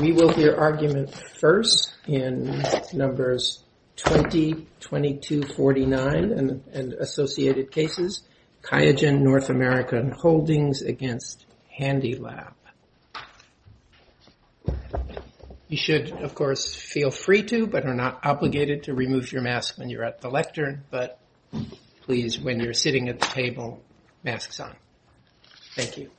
We will hear argument first in numbers 20, 22, 49, and associated cases. QIAGEN North American Holdings against HandyLab. You should, of course, feel free to, but are not obligated to remove your mask when you're at the lectern. But please, when you're sitting at the table, masks on. Thank you.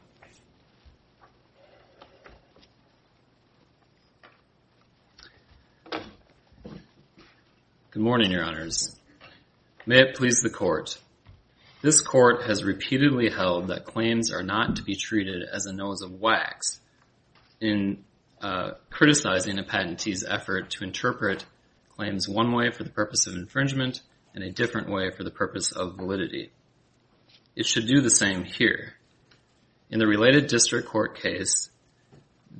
Good morning, Your Honors. May it please the Court. This Court has repeatedly held that claims are not to be treated as a nose of wax. In criticizing a patentee's effort to interpret claims one way for the purpose of infringement in a different way for the purpose of validity. It should do the same here. In the related district court case, for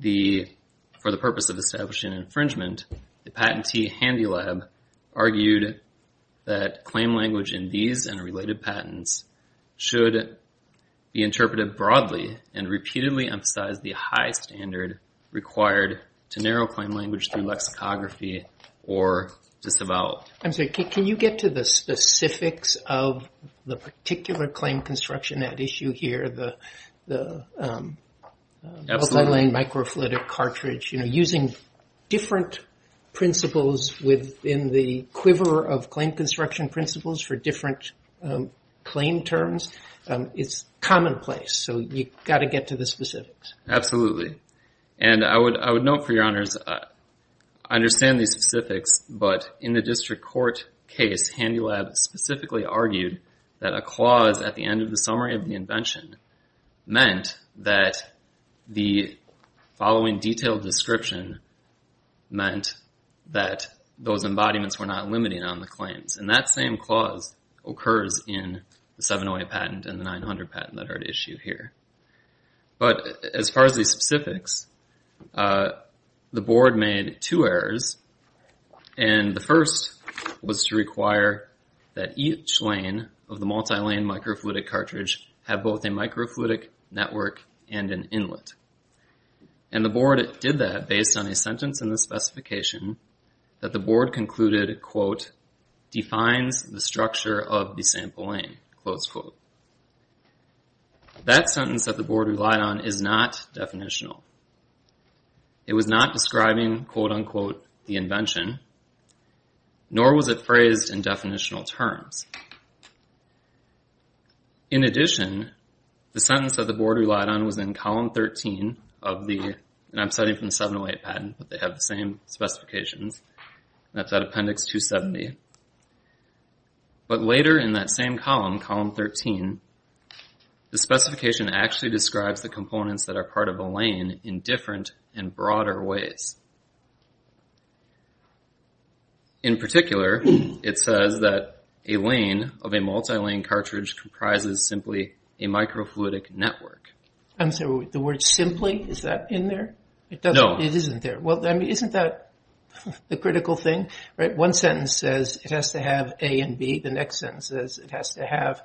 the purpose of establishing infringement, the patentee HandyLab argued that claim language in these and related patents should be interpreted broadly and repeatedly emphasize the high standard required to narrow claim language through lexicography or disavow. I'm sorry, can you get to the specifics of the particular claim construction at issue here, the multi-lane microfluidic cartridge, using different principles within the quiver of claim construction principles for different claim terms. It's commonplace, so you've got to get to the specifics. Absolutely. And I would note, for Your Honors, I understand these specifics, but in the district court case, HandyLab specifically argued that a clause at the end of the summary of the invention meant that the following detailed description meant that those embodiments were not limiting on the claims. And that same clause occurs in the 708 patent and the 900 patent that are at issue here. But as far as the specifics, the board made two errors, and the first was to require that each lane of the multi-lane microfluidic cartridge have both a microfluidic network and an inlet. And the board did that based on a sentence in the specification that the board concluded, quote, defines the structure of the sample lane, close quote. That sentence that the board relied on is not definitional. It was not describing, quote, unquote, the invention, nor was it phrased in definitional terms. In addition, the sentence that the board relied on was in column 13 of the, and I'm citing from the 708 patent, but they have the same specifications, and that's at Appendix 270. But later in that same column, column 13, the specification actually describes the components that are part of a lane in different and broader ways. In particular, it says that a lane of a multi-lane cartridge comprises simply a microfluidic network. I'm sorry, the word simply, is that in there? No. It isn't there. Well, isn't that the critical thing? One sentence says it has to have A and B. The next sentence says it has to have,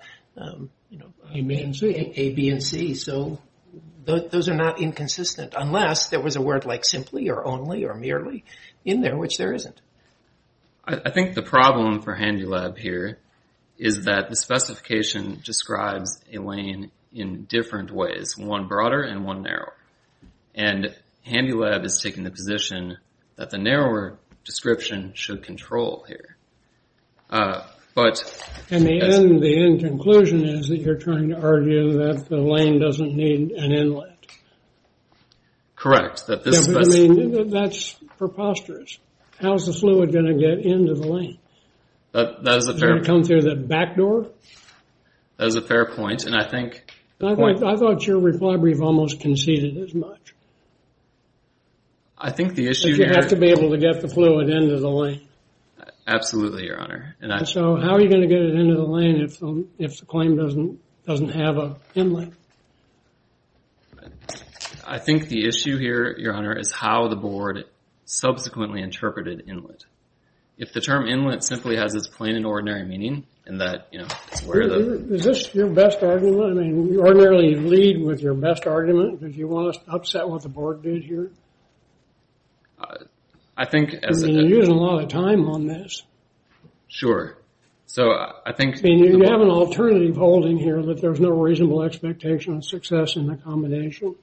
you know, A, B, and C. So those are not inconsistent, unless there was a word like simply or only or merely in there, which there isn't. I think the problem for HandyLab here is that the specification describes a lane in different ways, one broader and one narrower. And HandyLab is taking the position that the narrower description should control here. And the end conclusion is that you're trying to argue that the lane doesn't need an inlet. Correct. I mean, that's preposterous. How's the fluid going to get into the lane? That is a fair point. Is it going to come through the back door? That is a fair point, and I think... I thought your reply brief almost conceded as much. I think the issue here... That you have to be able to get the fluid into the lane. Absolutely, Your Honor. And so how are you going to get it into the lane if the claim doesn't have an inlet? I think the issue here, Your Honor, is how the board subsequently interpreted inlet. If the term inlet simply has this plain and ordinary meaning, and that, you know, it's where the... Is this your best argument? I mean, you ordinarily lead with your best argument. Did you want to upset what the board did here? I think... I mean, you're using a lot of time on this. Sure. So I think... I mean, you have an alternative holding here that there's no reasonable expectation of success in accommodation.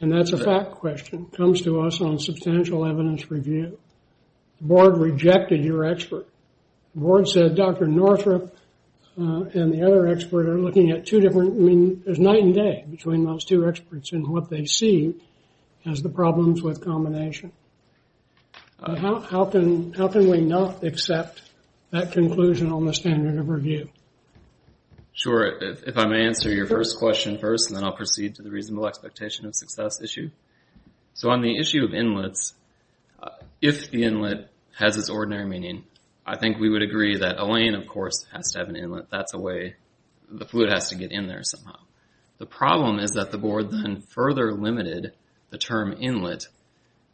And that's a fact question. It comes to us on substantial evidence review. The board rejected your expert. The board said Dr. Northrup and the other expert are looking at two different... I mean, there's night and day between those two experts and what they see as the problems with combination. How can we not accept that conclusion on the standard of review? Sure. If I may answer your first question first, and then I'll proceed to the reasonable expectation of success issue. So on the issue of inlets, if the inlet has its ordinary meaning, I think we would agree that a lane, of course, has to have an inlet. That's a way... The fluid has to get in there somehow. The problem is that the board then further limited the term inlet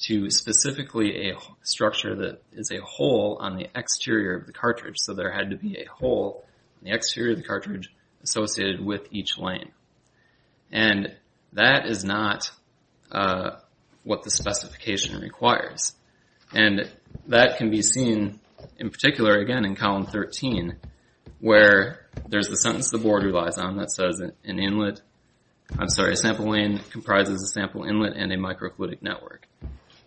to specifically a structure that is a hole on the exterior of the cartridge. So there had to be a hole in the exterior of the cartridge associated with each lane. And that is not what the specification requires. And that can be seen in particular, again, in column 13, where there's the sentence the board relies on that says an inlet... I'm sorry, a sample lane comprises a sample inlet and a microfluidic network.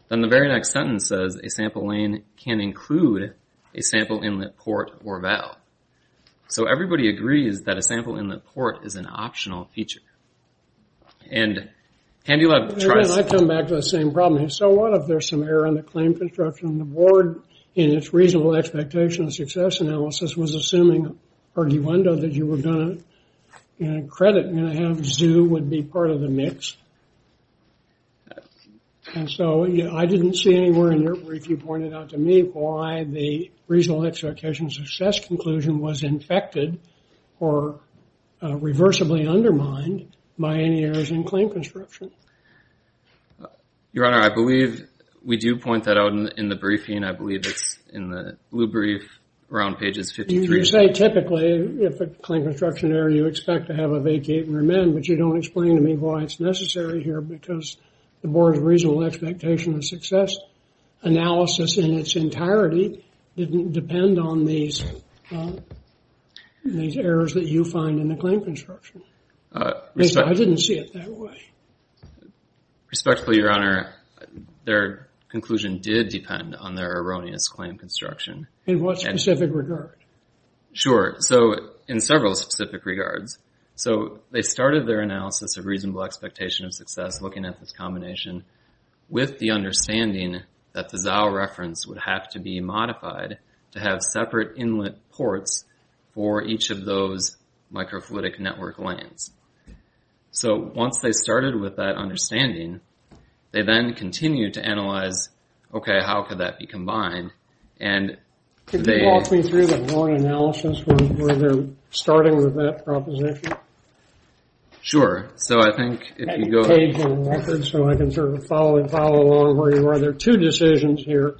Then the very next sentence says a sample lane can include a sample inlet port or valve. So everybody agrees that a sample inlet port is an optional feature. And Candy Love tries... So what if there's some error in the claim construction? The board, in its reasonable expectation of success analysis, was assuming, arguendo, that you were going to credit and have ZOO would be part of the mix. And so I didn't see anywhere in your brief you pointed out to me why the reasonable expectation of success conclusion was infected or reversibly undermined by any errors in claim construction. Your Honor, I believe we do point that out in the briefing. I believe it's in the blue brief around pages 53. You say typically if a claim construction error, you expect to have a vacate and remand, but you don't explain to me why it's necessary here because the board's reasonable expectation of success analysis in its entirety didn't depend on these errors that you find in the claim construction. I didn't see it that way. Respectfully, Your Honor, their conclusion did depend on their erroneous claim construction. In what specific regard? Sure. So in several specific regards. So they started their analysis of reasonable expectation of success looking at this combination with the understanding that the ZOO reference would have to be modified to have separate inlet ports for each of those microfluidic network lanes. So once they started with that understanding, they then continued to analyze, okay, how could that be combined? Could you walk me through the board analysis where they're starting with that proposition? Sure. So I think if you go ahead. So I can sort of follow along where you are. There are two decisions here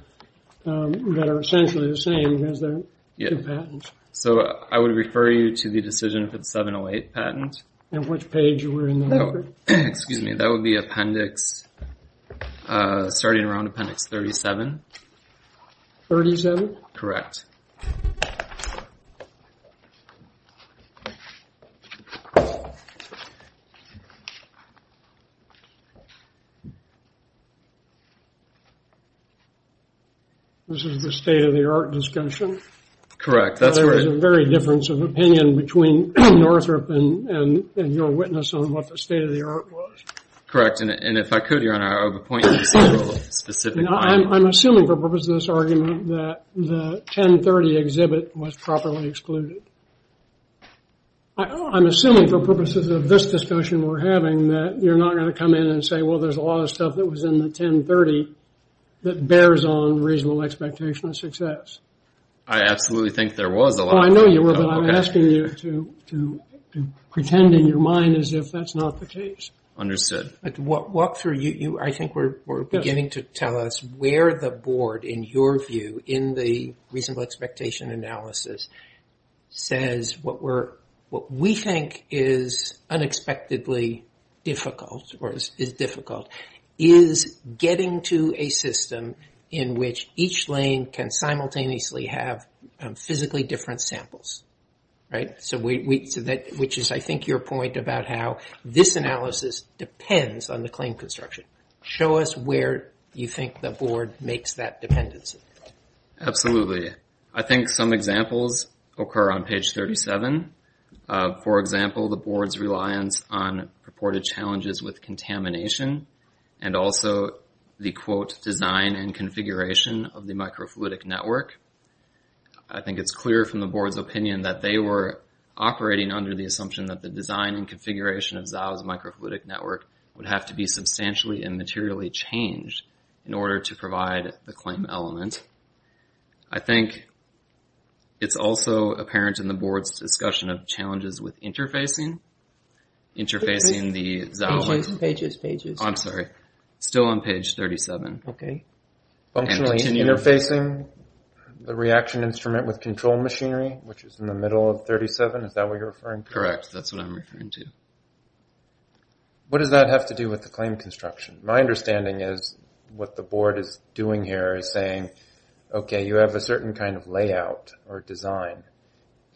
that are essentially the same as their two patents. So I would refer you to the decision for the 708 patent. And which page were you in there? Excuse me, that would be appendix, starting around appendix 37. 37? Correct. This is the state-of-the-art discussion. Correct. There's a very difference of opinion between Northrop and your witness on what the state-of-the-art was. Correct. And if I could, Your Honor, I would point you to several specific... I'm assuming for purposes of this argument that the 1030 exhibit was properly excluded. I'm assuming for purposes of this discussion we're having that you're not going to come in and say, well, there's a lot of stuff that was in the 1030 that bears on reasonable expectation of success. I absolutely think there was a lot. I know you were, but I'm asking you to pretend in your mind as if that's not the case. Understood. Walk through. I think we're beginning to tell us where the board, in your view, in the reasonable expectation analysis, says what we think is unexpectedly difficult is getting to a system in which each lane can simultaneously have physically different samples. Right? Which is, I think, your point about how this analysis depends on the claim construction. Show us where you think the board makes that dependency. Absolutely. I think some examples occur on page 37. For example, the board's reliance on purported challenges with contamination and also the, quote, design and configuration of the microfluidic network. I think it's clear from the board's opinion that they were operating under the assumption that the design and configuration of Zao's microfluidic network would have to be substantially and materially changed in order to provide the claim element. I think it's also apparent in the board's discussion of challenges with interfacing, interfacing the Zao. Pages, pages, pages. I'm sorry. Still on page 37. Okay. Functionally interfacing the reaction instrument with control machinery, which is in the middle of 37. Is that what you're referring to? Correct. That's what I'm referring to. What does that have to do with the claim construction? My understanding is what the board is doing here is saying, okay, you have a certain kind of layout or design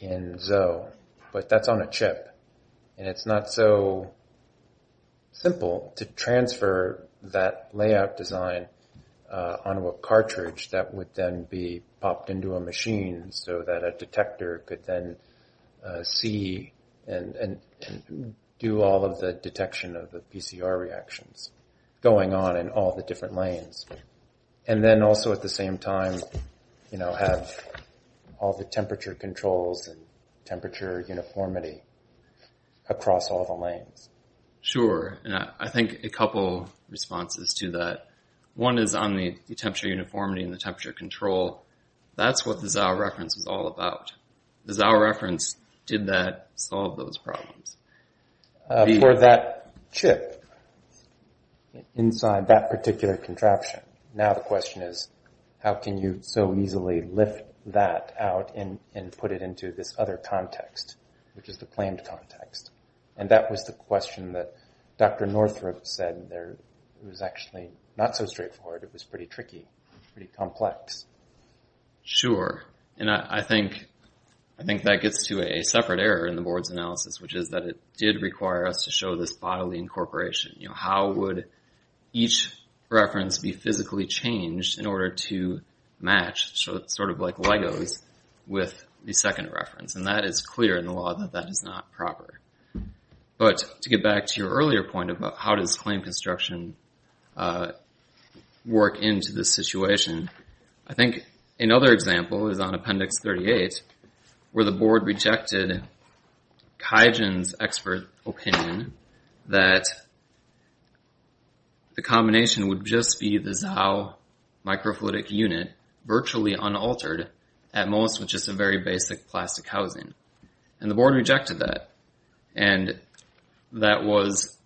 in Zao, but that's on a chip, and it's not so simple to transfer that layout design onto a cartridge that would then be popped into a machine so that a detector could then see and do all of the detection of the PCR reactions going on in all the different lanes. And then also at the same time, you know, have all the temperature controls and temperature uniformity across all the lanes. Sure. And I think a couple responses to that. One is on the temperature uniformity and the temperature control. That's what the Zao reference was all about. The Zao reference did that, solved those problems. For that chip inside that particular contraption, now the question is how can you so easily lift that out and put it into this other context, which is the claimed context. And that was the question that Dr. Northrop said there. It was actually not so straightforward. It was pretty tricky, pretty complex. Sure. And I think that gets to a separate error in the board's analysis, which is that it did require us to show this bodily incorporation. How would each reference be physically changed in order to match, sort of like Legos, with the second reference? And that is clear in the law that that is not proper. But to get back to your earlier point about how does claim construction work into this situation, I think another example is on Appendix 38 where the board rejected Kaijin's expert opinion that the combination would just be the Zao microfluidic unit virtually unaltered, at most with just a very basic plastic housing. And the board rejected that. And that was,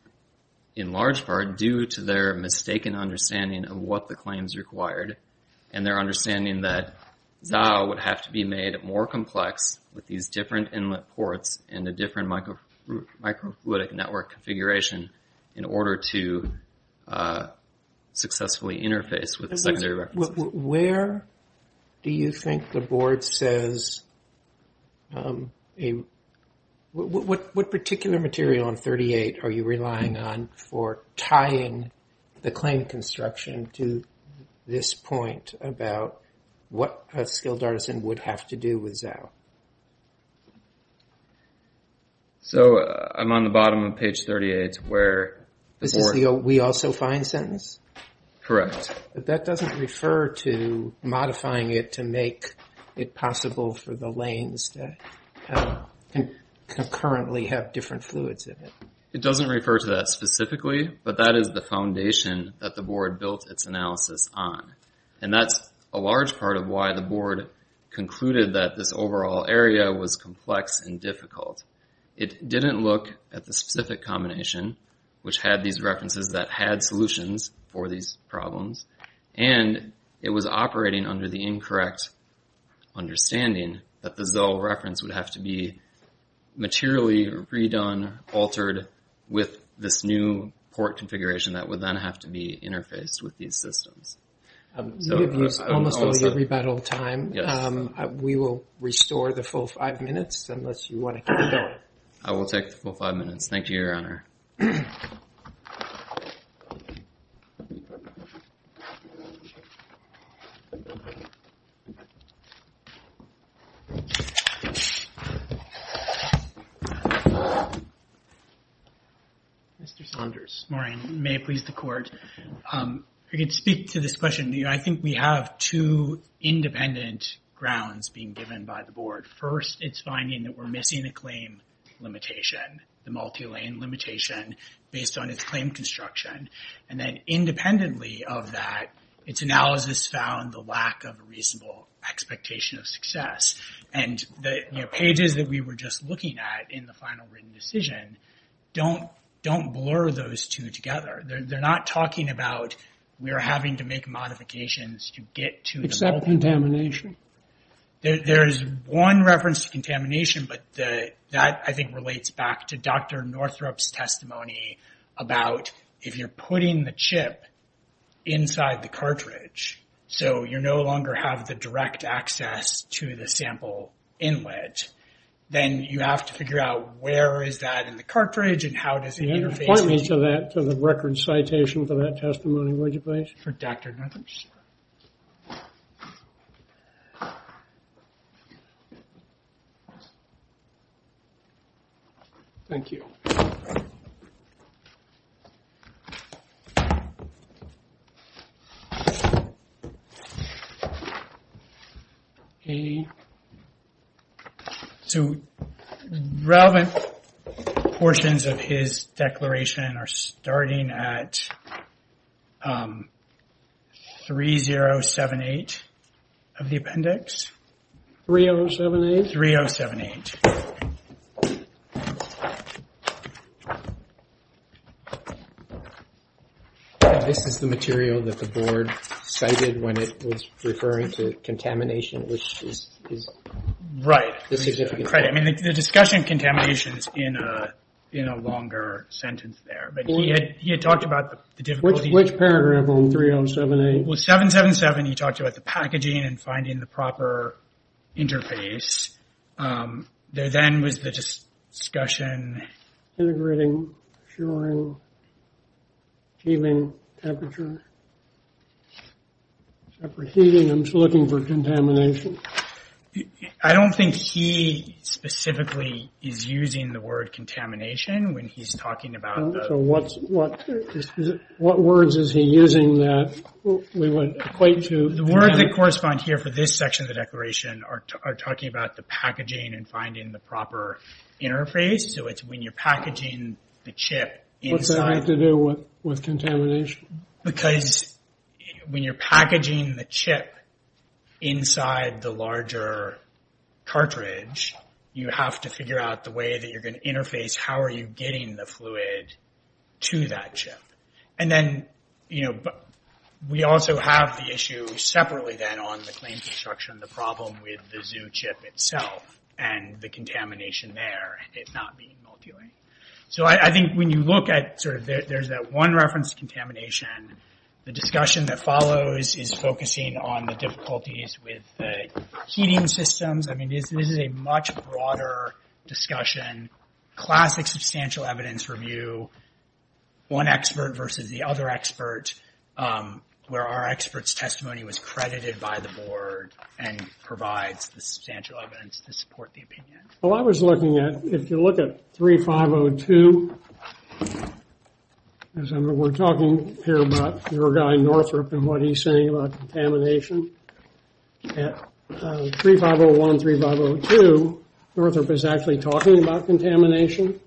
in large part, due to their mistaken understanding of what the claims required and their understanding that Zao would have to be made more complex with these different inlet ports and a different microfluidic network configuration in order to successfully interface with the secondary reference. Where do you think the board says... What particular material on 38 are you relying on for tying the claim construction to this point about what a skilled artisan would have to do with Zao? So I'm on the bottom of page 38 where... This is the we also find sentence? Correct. But that doesn't refer to modifying it to make it possible for the lanes to concurrently have different fluids in it. It doesn't refer to that specifically, but that is the foundation that the board built its analysis on. And that's a large part of why the board concluded that this overall area was complex and difficult. It didn't look at the specific combination, which had these references that had solutions for these problems, and it was operating under the incorrect understanding that the Zao reference would have to be materially redone, altered, with this new port configuration that would then have to be interfaced with these systems. We give you almost a rebuttal time. We will restore the full five minutes unless you want to keep going. I will take the full five minutes. Thank you, Your Honor. Mr. Saunders. Morning. May it please the Court. If I could speak to this question. I think we have two independent grounds being given by the board. First, it's finding that we're missing a claim limitation, the multi-lane limitation, based on its claim construction. And then independently of that, its analysis found the lack of a reasonable expectation of success. And the pages that we were just looking at in the final written decision don't blur those two together. They're not talking about we're having to make modifications to get to the... Except contamination? There's one reference to contamination, but that I think relates back to Dr. Northrup's testimony about if you're putting the chip inside the cartridge, so you no longer have the direct access to the sample inlet, then you have to figure out where is that in the cartridge, and how does it interface... Point me to the record citation for that testimony, would you please? For Dr. Northrup. Thank you. Okay. So relevant portions of his declaration are starting at 3078 of the appendix. 3078? 3078. This is the material that the board cited when it was referring to contamination, which is... Right. I mean, the discussion of contamination is in a longer sentence there, but he had talked about the difficulty... Which paragraph on 3078? Well, 777, he talked about the packaging and finding the proper interface. There then was the discussion... Integrating, assuring, achieving temperature, separate heating, I'm just looking for contamination. I don't think he specifically is using the word contamination when he's talking about the... So what words is he using that we would equate to... The words that correspond here for this section of the declaration are talking about the packaging and finding the proper interface. So it's when you're packaging the chip inside... What's that have to do with contamination? Because when you're packaging the chip inside the larger cartridge, you have to figure out the way that you're going to interface. How are you getting the fluid to that chip? And then, you know, we also have the issue separately then on the claim construction, the problem with the zoo chip itself and the contamination there, it not being multilayered. So I think when you look at sort of... There's that one reference to contamination. The discussion that follows is focusing on the difficulties with the heating systems. I mean, this is a much broader discussion. Classic substantial evidence review, one expert versus the other expert, where our expert's testimony was credited by the board and provides the substantial evidence to support the opinion. Well, I was looking at... If you look at 3502, we're talking here about your guy Northrop and what he's saying about contamination. At 3501, 3502, Northrop is actually talking about contamination.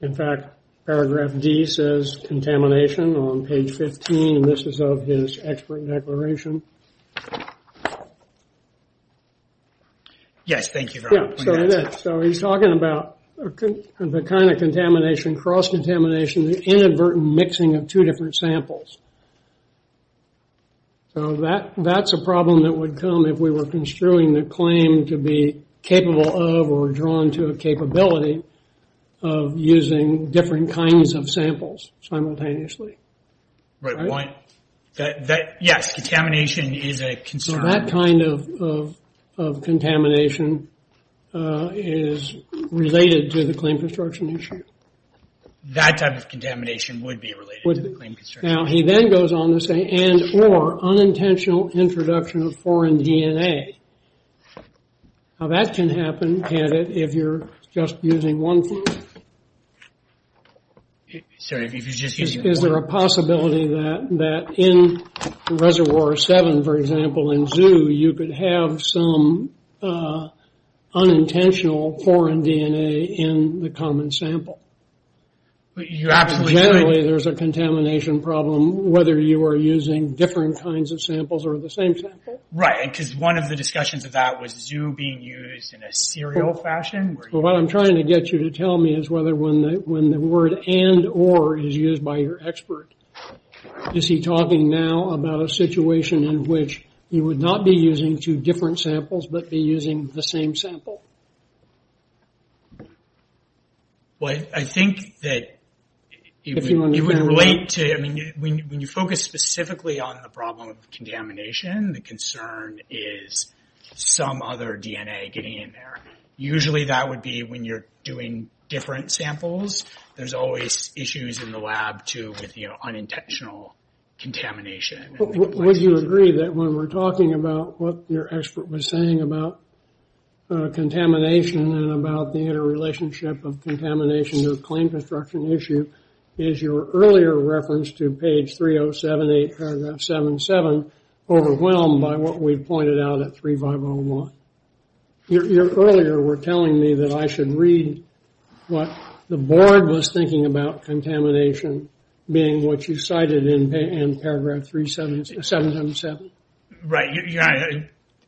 In fact, paragraph D says contamination on page 15, and this is of his expert declaration. Yes, thank you very much. Yeah, so it is. So he's talking about the kind of contamination, cross-contamination, the inadvertent mixing of two different samples. So that's a problem that would come if we were construing the claim to be capable of or drawn to a capability of using different kinds of samples simultaneously. Yes, contamination is a concern. That kind of contamination is related to the claim construction issue. That type of contamination would be related to the claim construction issue. Now, he then goes on to say and or unintentional introduction of foreign DNA. Now, that can happen, can't it, if you're just using one thing? Sorry, if you're just using one. Is there a possibility that in Reservoir 7, for example, in ZOO, you could have some unintentional foreign DNA in the common sample? You're absolutely right. Generally, there's a contamination problem whether you are using different kinds of samples or the same sample? Right, because one of the discussions of that was ZOO being used in a serial fashion? What I'm trying to get you to tell me is whether when the word and or is used by your expert, is he talking now about a situation in which he would not be using two different samples but be using the same sample? Well, I think that it would relate to... When you focus specifically on the problem of contamination, the concern is some other DNA getting in there. Usually, that would be when you're doing different samples. There's always issues in the lab, too, with unintentional contamination. Would you agree that when we're talking about what your expert was saying about contamination and about the interrelationship of contamination to a claim construction issue is your earlier reference to page 307, paragraph 7, 7, overwhelmed by what we pointed out at 3501? You earlier were telling me that I should read what the board was thinking about contamination being what you cited in paragraph 377. Right.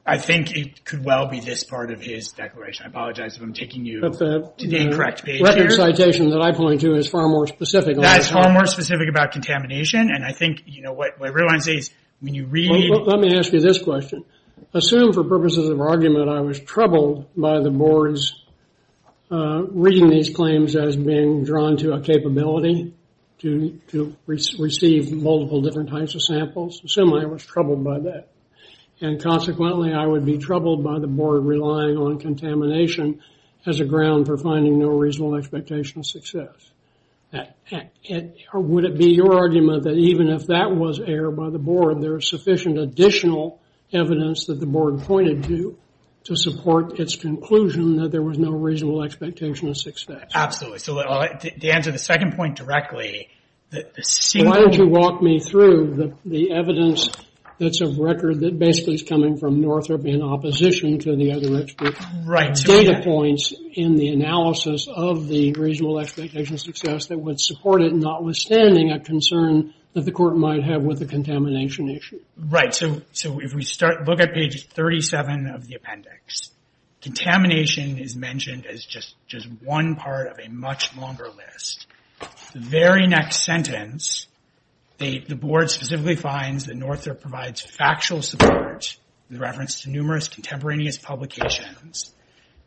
I think it could well be this part of his declaration. I apologize if I'm taking you to the incorrect page here. The citation that I point to is far more specific. That is far more specific about contamination and I think what I realize is when you read... Let me ask you this question. Assume, for purposes of argument, I was troubled by the board's reading these claims as being drawn to a capability to receive multiple different types of samples. Assume I was troubled by that. And consequently, I would be troubled by the board relying on contamination as a ground for finding no reasonable expectation of success. Would it be your argument that even if that was errored by the board, there is sufficient additional evidence that the board pointed to to support its conclusion that there was no reasonable expectation of success? Absolutely. To answer the second point directly... Why don't you walk me through the evidence that's of record that basically is coming from Northrop in opposition to the other data points in the analysis of the reasonable expectation of success that would support it, notwithstanding a concern that the court might have with the contamination issue. Right. So if we look at page 37 of the appendix, contamination is mentioned as just one part of a much longer list. The very next sentence, the board specifically finds that Northrop provides factual support in reference to numerous contemporaneous publications.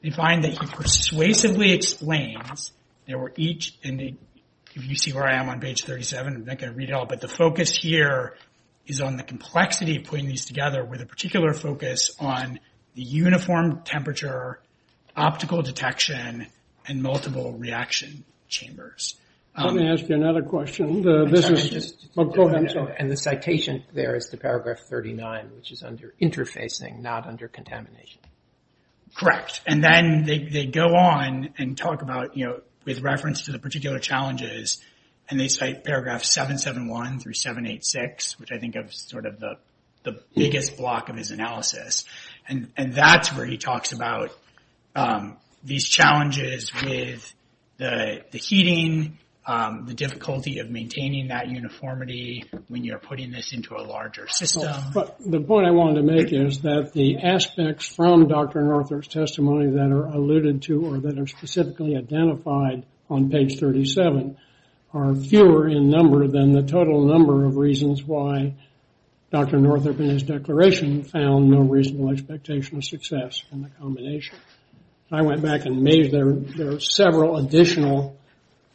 They find that he persuasively explains there were each... If you see where I am on page 37, I'm not going to read it all, but the focus here is on the complexity of putting these together with a particular focus on the uniform temperature, optical detection, and multiple reaction chambers. Let me ask you another question. Go ahead. And the citation there is to paragraph 39, which is under interfacing, not under contamination. Correct. And then they go on and talk about, with reference to the particular challenges, and they cite paragraph 771 through 786, which I think of as sort of the biggest block of his analysis. And that's where he talks about these challenges with the heating, the difficulty of maintaining that uniformity when you're putting this into a larger system. The point I wanted to make is that the aspects from Dr. Northrop's testimony that are alluded to or that are specifically identified on page 37 are fewer in number than the total number of reasons why Dr. Northrop in his declaration found no reasonable expectation of success in the combination. I went back and made several additional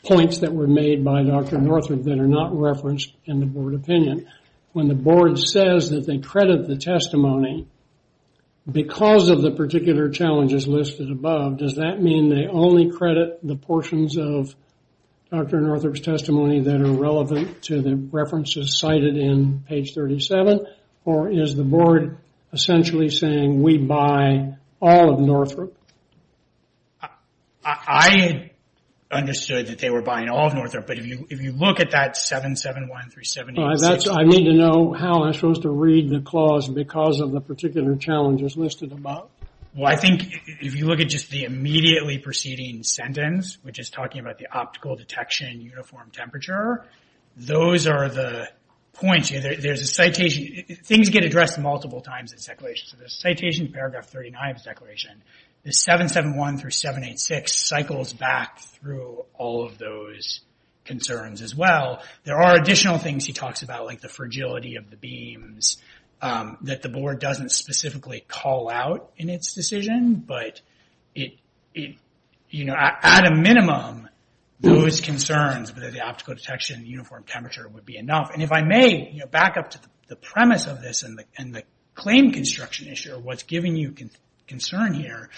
points that were made by Dr. Northrop that are not referenced in the board opinion. When the board says that they credit the testimony because of the particular challenges listed above, does that mean they only credit the portions of Dr. Northrop's testimony that are relevant to the references cited in page 37, or is the board essentially saying we buy all of Northrop? I understood that they were buying all of Northrop, but if you look at that 771 through 786, I need to know how I'm supposed to read the clause because of the particular challenges listed above? Well, I think if you look at just the immediately preceding sentence, which is talking about the optical detection uniform temperature, those are the points. There's a citation. Things get addressed multiple times in the declaration, so the citation in paragraph 39 of the declaration, the 771 through 786 cycles back through all of those concerns as well. There are additional things he talks about, like the fragility of the beams, that the board doesn't specifically call out in its decision, but at a minimum, those concerns, whether the optical detection uniform temperature would be enough. If I may, back up to the premise of this and the claim construction issue, what's giving you concern here,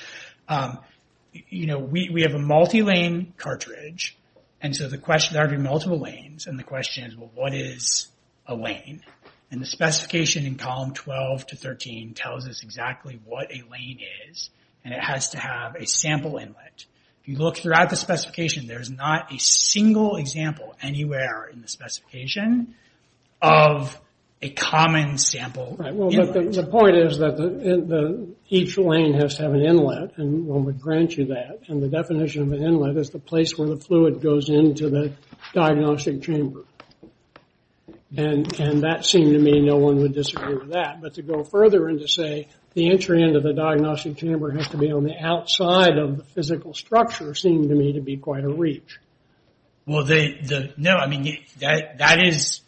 we have a multi-lane cartridge, and so there are going to be multiple lanes, and the question is, well, what is a lane? And the specification in column 12 to 13 tells us exactly what a lane is, and it has to have a sample inlet. If you look throughout the specification, there's not a single example anywhere in the specification of a common sample inlet. The point is that each lane has to have an inlet, and one would grant you that, and the definition of an inlet is the place where the fluid goes into the diagnostic chamber, and that seemed to me no one would disagree with that, but to go further and to say the entry into the diagnostic chamber has to be on the outside of the physical structure seemed to me to be quite a reach. Well, no, I mean, that is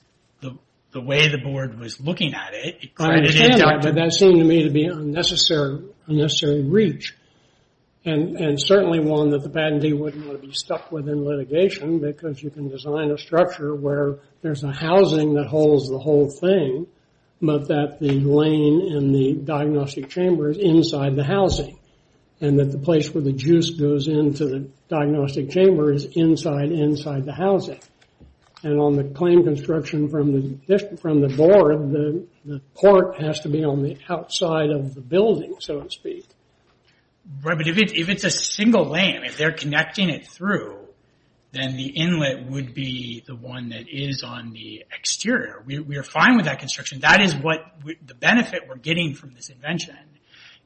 the way the board was looking at it. But that seemed to me to be an unnecessary reach, and certainly one that the patentee wouldn't want to be stuck with in litigation because you can design a structure where there's a housing that holds the whole thing, but that the lane in the diagnostic chamber is inside the housing, and that the place where the juice goes into the diagnostic chamber is inside, inside the housing, and on the claim construction from the board, the port has to be on the outside of the building, so to speak. Right, but if it's a single lane, if they're connecting it through, then the inlet would be the one that is on the exterior. We are fine with that construction. That is what the benefit we're getting from this invention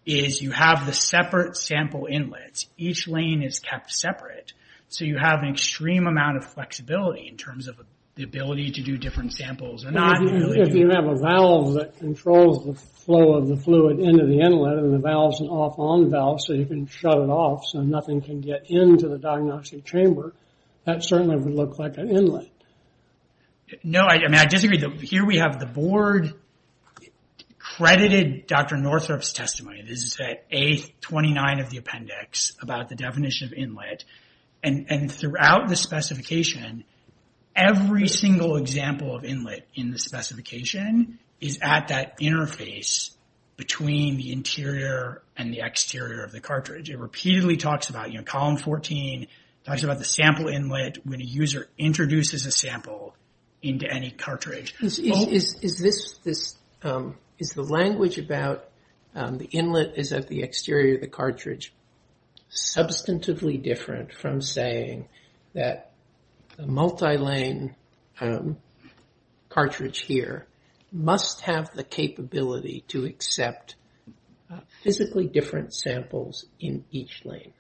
is you have the separate sample inlets. Each lane is kept separate, so you have an extreme amount of flexibility in terms of the ability to do different samples. If you have a valve that controls the flow of the fluid into the inlet, and the valve's an off-on valve, so you can shut it off so nothing can get into the diagnostic chamber, that certainly would look like an inlet. No, I disagree. Here we have the board credited Dr. Northrup's testimony. This is at A29 of the appendix about the definition of inlet. Throughout the specification, every single example of inlet in the specification is at that interface between the interior and the exterior of the cartridge. It repeatedly talks about, column 14 talks about the sample inlet when a user introduces a sample into any cartridge. Is the language about the inlet is at the exterior of the cartridge substantively different from saying that a multi-lane cartridge here must have the capability to accept physically different samples in each lane?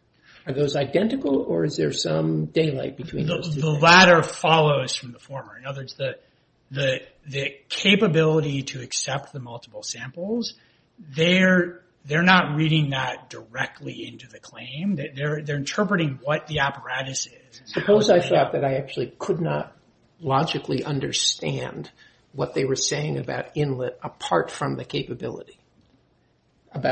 Are those identical, or is there some daylight between those two things? The latter follows from the former. In other words, the capability to accept the multiple samples, they're not reading that directly into the claim. They're interpreting what the apparatus is. Suppose I thought that I actually could not logically understand what they were saying about inlet apart from the capability. I'm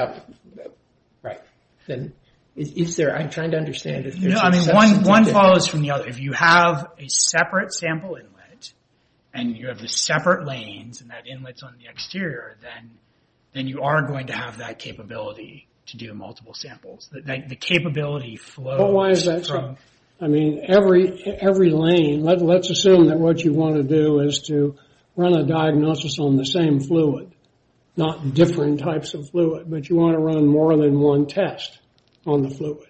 trying to understand. One follows from the other. If you have a separate sample inlet and you have the separate lanes and that inlet's on the exterior, then you are going to have that capability to do multiple samples. The capability flows from... Why is that so? Every lane, let's assume that what you want to do is to run a diagnosis on the same fluid, not different types of fluid, but you want to run more than one test on the fluid.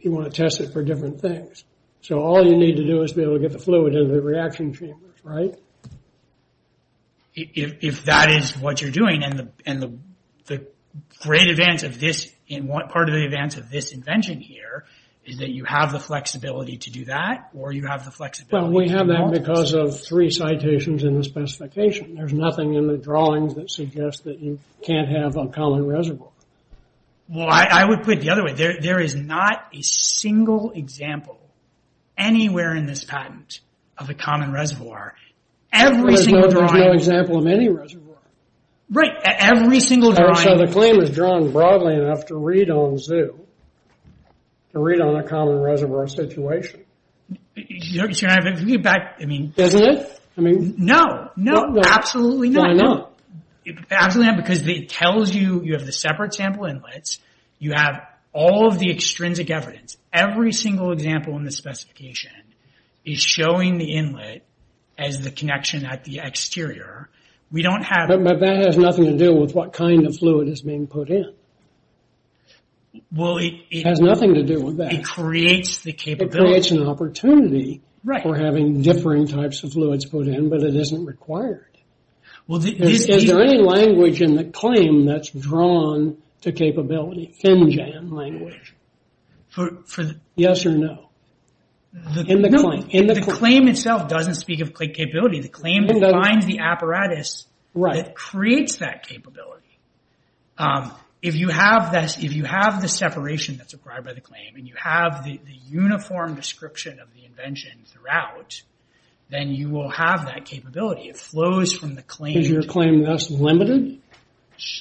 You want to test it for different things. All you need to do is be able to get the fluid into the reaction chambers, right? If that is what you're doing, and the great advance of this, and part of the advance of this invention here is that you have the flexibility to do that, or you have the flexibility... We have that because of three citations in the specification. There's nothing in the drawings that suggests that you can't have a common reservoir. Well, I would put it the other way. There is not a single example anywhere in this patent of a common reservoir. There's no example of any reservoir. Right, every single drawing... So the claim is drawn broadly enough to read on zoo, to read on a common reservoir situation. To get back, I mean... Doesn't it? No, no, absolutely not. Why not? Absolutely not, because it tells you you have the separate sample inlets, you have all of the extrinsic evidence. Every single example in the specification is showing the inlet as the connection at the exterior. But that has nothing to do with what kind of fluid is being put in. Well, it... It has nothing to do with that. It creates the capability... It creates an opportunity... Right. ...for having differing types of fluids put in, but it isn't required. Well, the... Is there any language in the claim that's drawn to capability, FinJAM language? For the... Yes or no? No, the claim itself doesn't speak of capability. The claim defines the apparatus... Right. ...that creates that capability. If you have the separation that's required by the claim, and you have the uniform description of the invention throughout, then you will have that capability. It flows from the claim... Is your claim thus limited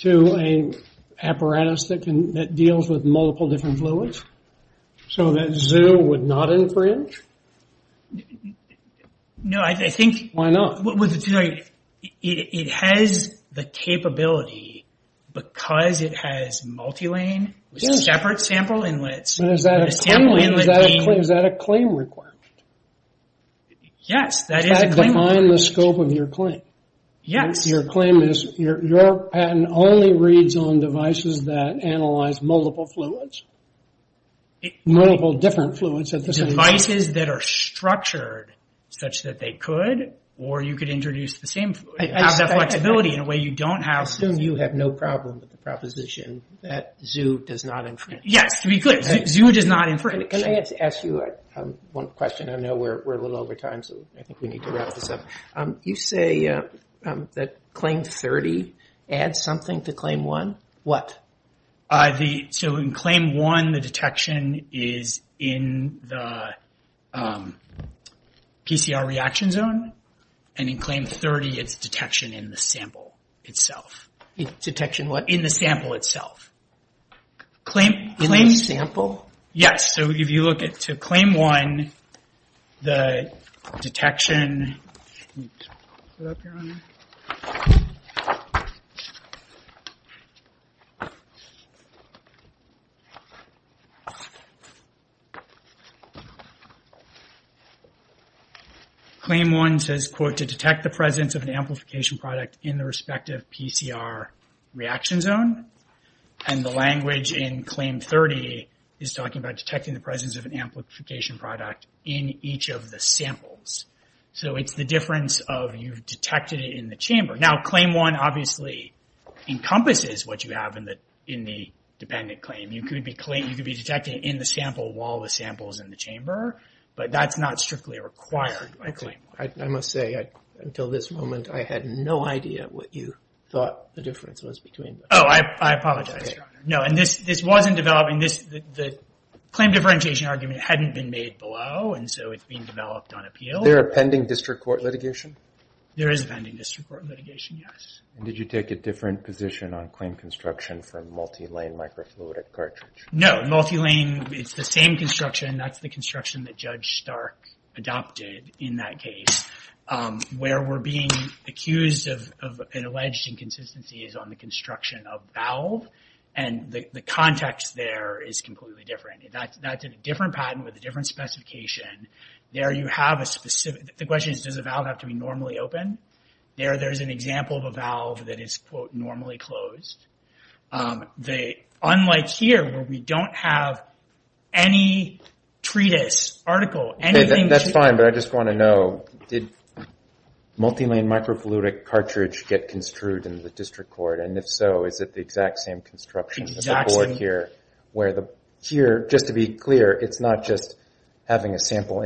to an apparatus that deals with multiple different fluids, so that ZOO would not infringe? No, I think... Why not? It has the capability because it has multi-lane... Yes. ...with separate sample inlets... But is that a claim requirement? Yes, that is a claim requirement. Does that define the scope of your claim? Yes. Your claim is your patent only reads on devices that analyze multiple fluids, multiple different fluids at the same time? Devices that are structured such that they could, or you could introduce the same fluid. You have that flexibility in a way you don't have... I assume you have no problem with the proposition that ZOO does not infringe. Yes, to be clear, ZOO does not infringe. Can I ask you one question? I know we're a little over time, so I think we need to wrap this up. You say that Claim 30 adds something to Claim 1? What? So in Claim 1, the detection is in the PCR reaction zone, and in Claim 30, it's detection in the sample itself. Detection what? In the sample itself. In the sample? Yes, so if you look at Claim 1, the detection... Claim 1 says, quote, to detect the presence of an amplification product in the respective PCR reaction zone. And the language in Claim 30 is talking about detecting the presence of an amplification product in each of the samples. So it's the difference of you've detected it in the chamber. Now, Claim 1 obviously encompasses what you have in the dependent claim. You could be detecting it in the sample while the sample is in the chamber, but that's not strictly required by Claim 1. I must say, until this moment, I had no idea what you thought the difference was between them. Oh, I apologize, Your Honor. No, and this wasn't developed... The claim differentiation argument hadn't been made below, and so it's being developed on appeal. Is there a pending district court litigation? There is a pending district court litigation, yes. And did you take a different position on claim construction for multi-lane microfluidic cartridge? No, multi-lane, it's the same construction. That's the construction that Judge Stark adopted in that case where we're being accused of an alleged inconsistency is on the construction of valve, and the context there is completely different. That's a different patent with a different specification. There you have a specific... The question is, does a valve have to be normally open? There, there's an example of a valve that is, quote, normally closed. Unlike here, where we don't have any treatise, article, anything... That's fine, but I just want to know, did multi-lane microfluidic cartridge get construed in the district court? And if so, is it the exact same construction of the board here? Where the... Here, just to be clear, it's not just having a sample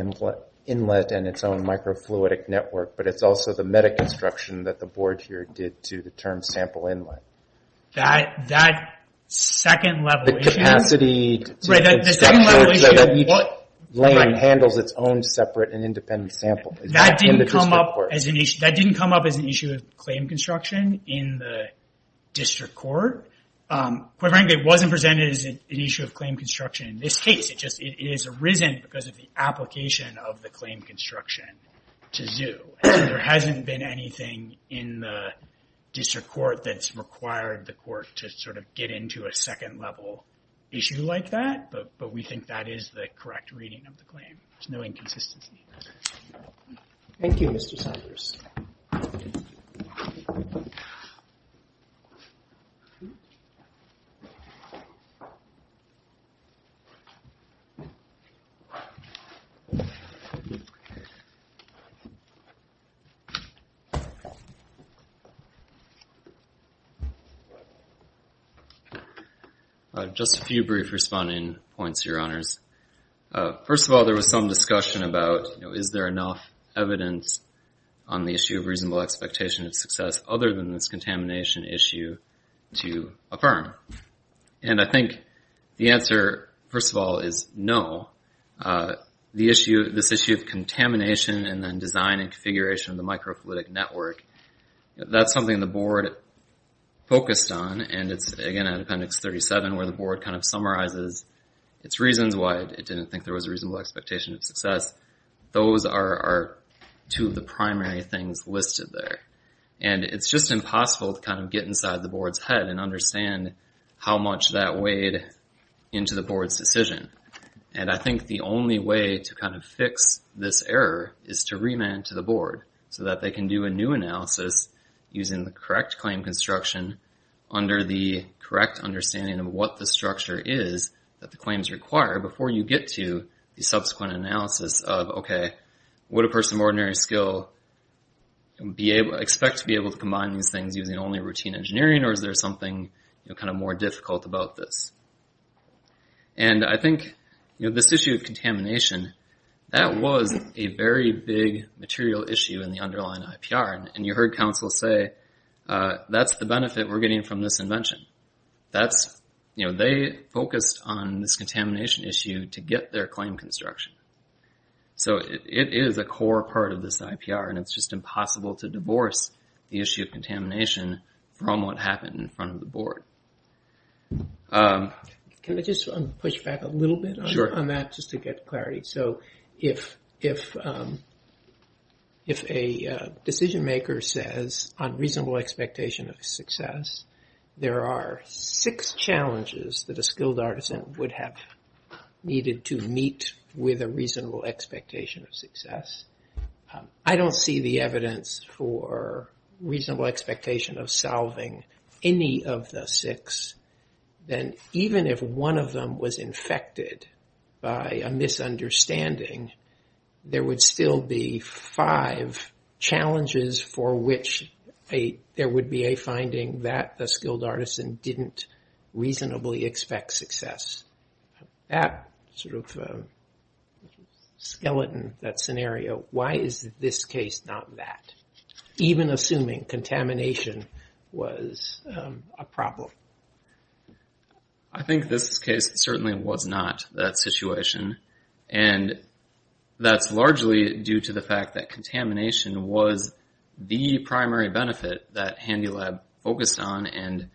inlet and its own microfluidic network, but it's also the meta construction that the board here did to the term sample inlet. That second level issue... The capacity... Right, the second level issue... Multi-lane handles its own separate and independent sample. That didn't come up as an issue of claim construction in the district court. Quite frankly, it wasn't presented as an issue of claim construction in this case. It is arisen because of the application of the claim construction to ZOO. There hasn't been anything in the district court that's required the court to sort of get into a second level issue like that, but we think that is the correct reading of the claim. There's no inconsistency. Thank you, Mr. Sanders. Just a few brief responding points, Your Honors. First of all, there was some discussion about is there enough evidence on the issue of reasonable expectation of success other than this contamination issue to affirm? And I think the answer, first of all, is no. This issue of contamination and then design and configuration of the microfluidic network, that's something the board focused on, and it's, again, at Appendix 37 where the board kind of summarizes its reasons why it didn't think there was a reasonable expectation of success. Those are two of the primary things listed there, and it's just impossible to kind of get inside the board's head and understand how much that weighed into the board's decision, and I think the only way to kind of fix this error is to remand to the board so that they can do a new analysis using the correct claim construction under the correct understanding of what the structure is that the claims require before you get to the subsequent analysis of, okay, would a person of ordinary skill expect to be able to combine these things using only routine engineering, or is there something kind of more difficult about this? And I think this issue of contamination, that was a very big material issue in the underlying IPR, and you heard counsel say, that's the benefit we're getting from this invention. They focused on this contamination issue to get their claim construction. So it is a core part of this IPR, and it's just impossible to divorce the issue of contamination from what happened in front of the board. Can I just push back a little bit on that just to get clarity? So if a decision maker says, on reasonable expectation of success, there are six challenges that a skilled artisan would have needed to meet with a reasonable expectation of success. I don't see the evidence for reasonable expectation of solving any of the six. Then even if one of them was infected by a misunderstanding, there would still be five challenges for which there would be a finding that the skilled artisan didn't reasonably expect success. That sort of skeleton, that scenario, why is this case not that? Even assuming contamination was a problem. I think this case certainly was not that situation, and that's largely due to the fact that contamination was the primary benefit that HandyLab focused on and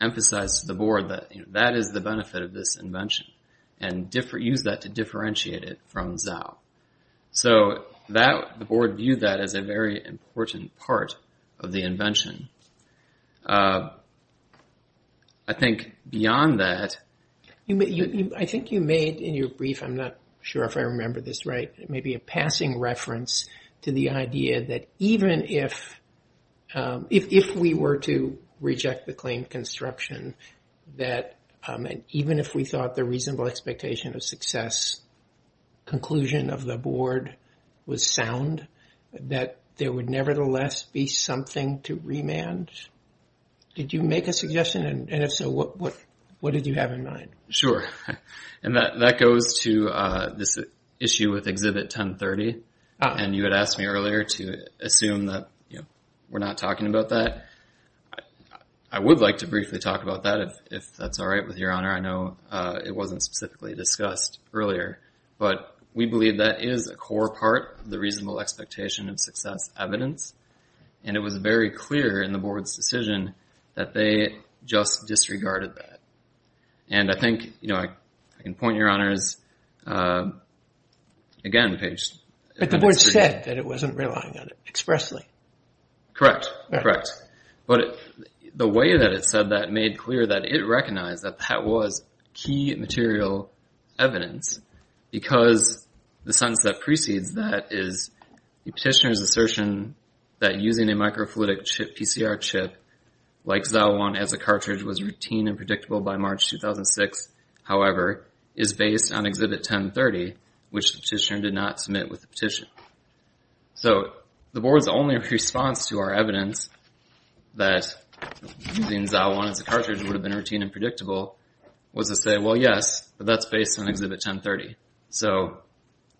emphasized to the board that that is the benefit of this invention and used that to differentiate it from Zao. So the board viewed that as a very important part of the invention. I think beyond that... I think you made in your brief, I'm not sure if I remember this right, maybe a passing reference to the idea that even if we were to reject the claim construction, that even if we thought the reasonable expectation of success conclusion of the board was sound, that there would nevertheless be something to remand? Did you make a suggestion? If so, what did you have in mind? Sure. That goes to this issue with Exhibit 1030. You had asked me earlier to assume that we're not talking about that. I would like to briefly talk about that if that's all right with your honor. I know it wasn't specifically discussed earlier, but we believe that is a core part of the reasonable expectation of success evidence, and it was very clear in the board's decision that they just disregarded that. And I think, you know, I can point your honors, again, Page... But the board said that it wasn't relying on it expressly. Correct. Correct. But the way that it said that made clear that it recognized that that was key material evidence because the sense that precedes that is the petitioner's assertion that using a microfluidic chip, PCR chip, like Zalwan, as a cartridge was routine and predictable by March 2006, which the petitioner did not submit with the petition. So the board's only response to our evidence that using Zalwan as a cartridge would have been routine and predictable was to say, well, yes, but that's based on Exhibit 1030, so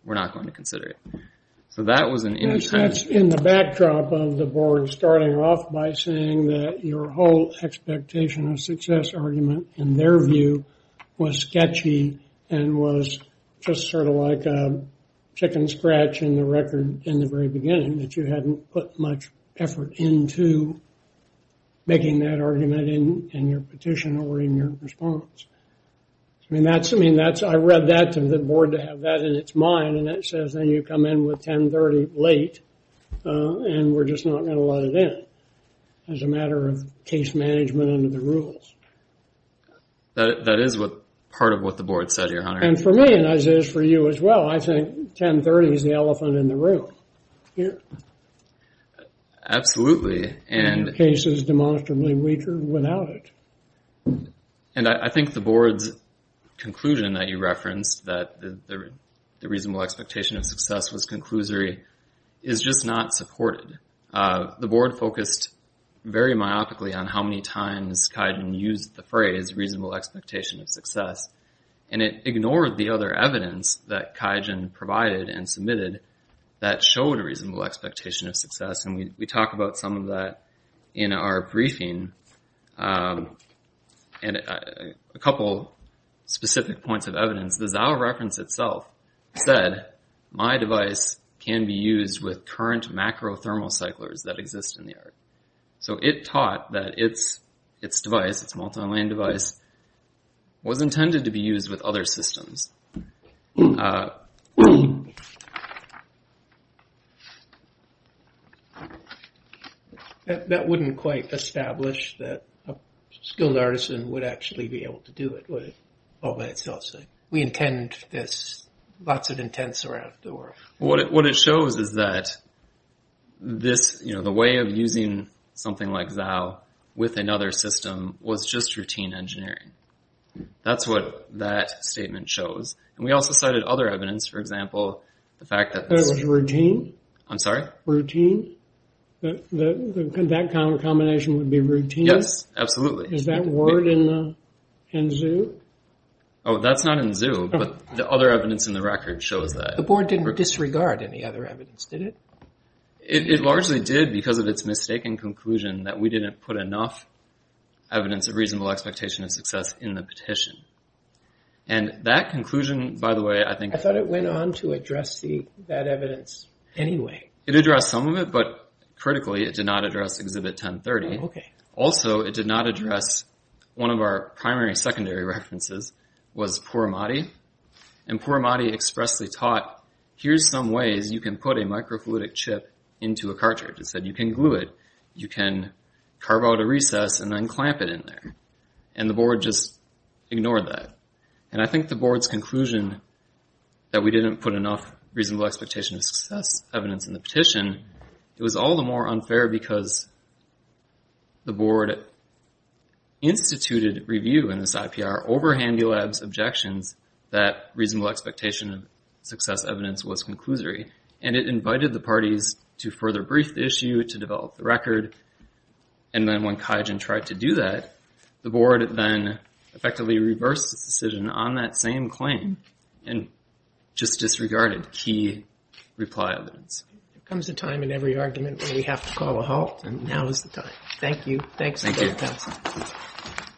we're not going to consider it. So that was an... That's in the backdrop of the board starting off by saying that your whole expectation of success argument, in their view, was sketchy and was just sort of like chicken scratch in the record in the very beginning, that you hadn't put much effort into making that argument in your petition or in your response. I mean, that's... I mean, that's... I read that to the board to have that in its mind, and that says, then you come in with 1030 late, and we're just not going to let it in as a matter of case management under the rules. That is what... Part of what the board said here, Hunter. And for me, and as is for you as well, I think 1030 is the elephant in the room. Absolutely, and... The case is demonstrably weaker without it. And I think the board's conclusion that you referenced, that the reasonable expectation of success was conclusory, is just not supported. The board focused very myopically on how many times Kaidan used the phrase reasonable expectation of success, and it ignored the other evidence that Kaidan provided and submitted that showed a reasonable expectation of success. And we talk about some of that in our briefing. And a couple specific points of evidence. The Zao reference itself said, my device can be used with current macro thermocyclers that exist in the air. So it taught that its device, its multi-lane device, was intended to be used with other systems. Uh... That wouldn't quite establish that a skilled artisan would actually be able to do it, would it? All by itself. We intend this, lots of intents around the world. What it shows is that this, you know, the way of using something like Zao with another system was just routine engineering. That's what that statement shows. And we also cited other evidence, for example, the fact that... That was routine? I'm sorry? Routine? That combination would be routine? Yes, absolutely. Is that word in Zao? Oh, that's not in Zao, but the other evidence in the record shows that. The board didn't disregard any other evidence, did it? It largely did because of its mistaken conclusion that we didn't put enough evidence of reasonable expectation of success in the petition. And that conclusion, by the way, I think... I thought it went on to address that evidence anyway. It addressed some of it, but critically, it did not address Exhibit 1030. Also, it did not address one of our primary, secondary references was Puramadi. And Puramadi expressly taught, here's some ways you can put a microfluidic chip into a cartridge. It said you can glue it, you can carve out a recess and then clamp it in there. And the board just ignored that. And I think the board's conclusion that we didn't put enough reasonable expectation of success evidence in the petition, it was all the more unfair because the board instituted review in this IPR over HandyLab's objections that reasonable expectation of success evidence was conclusory. And it invited the parties to further brief the issue, to develop the record. And then when Kaijin tried to do that, the board then effectively reversed its decision on that same claim and just disregarded key reply evidence. There comes a time in every argument where we have to call a halt Thank you. Thanks. Thank you.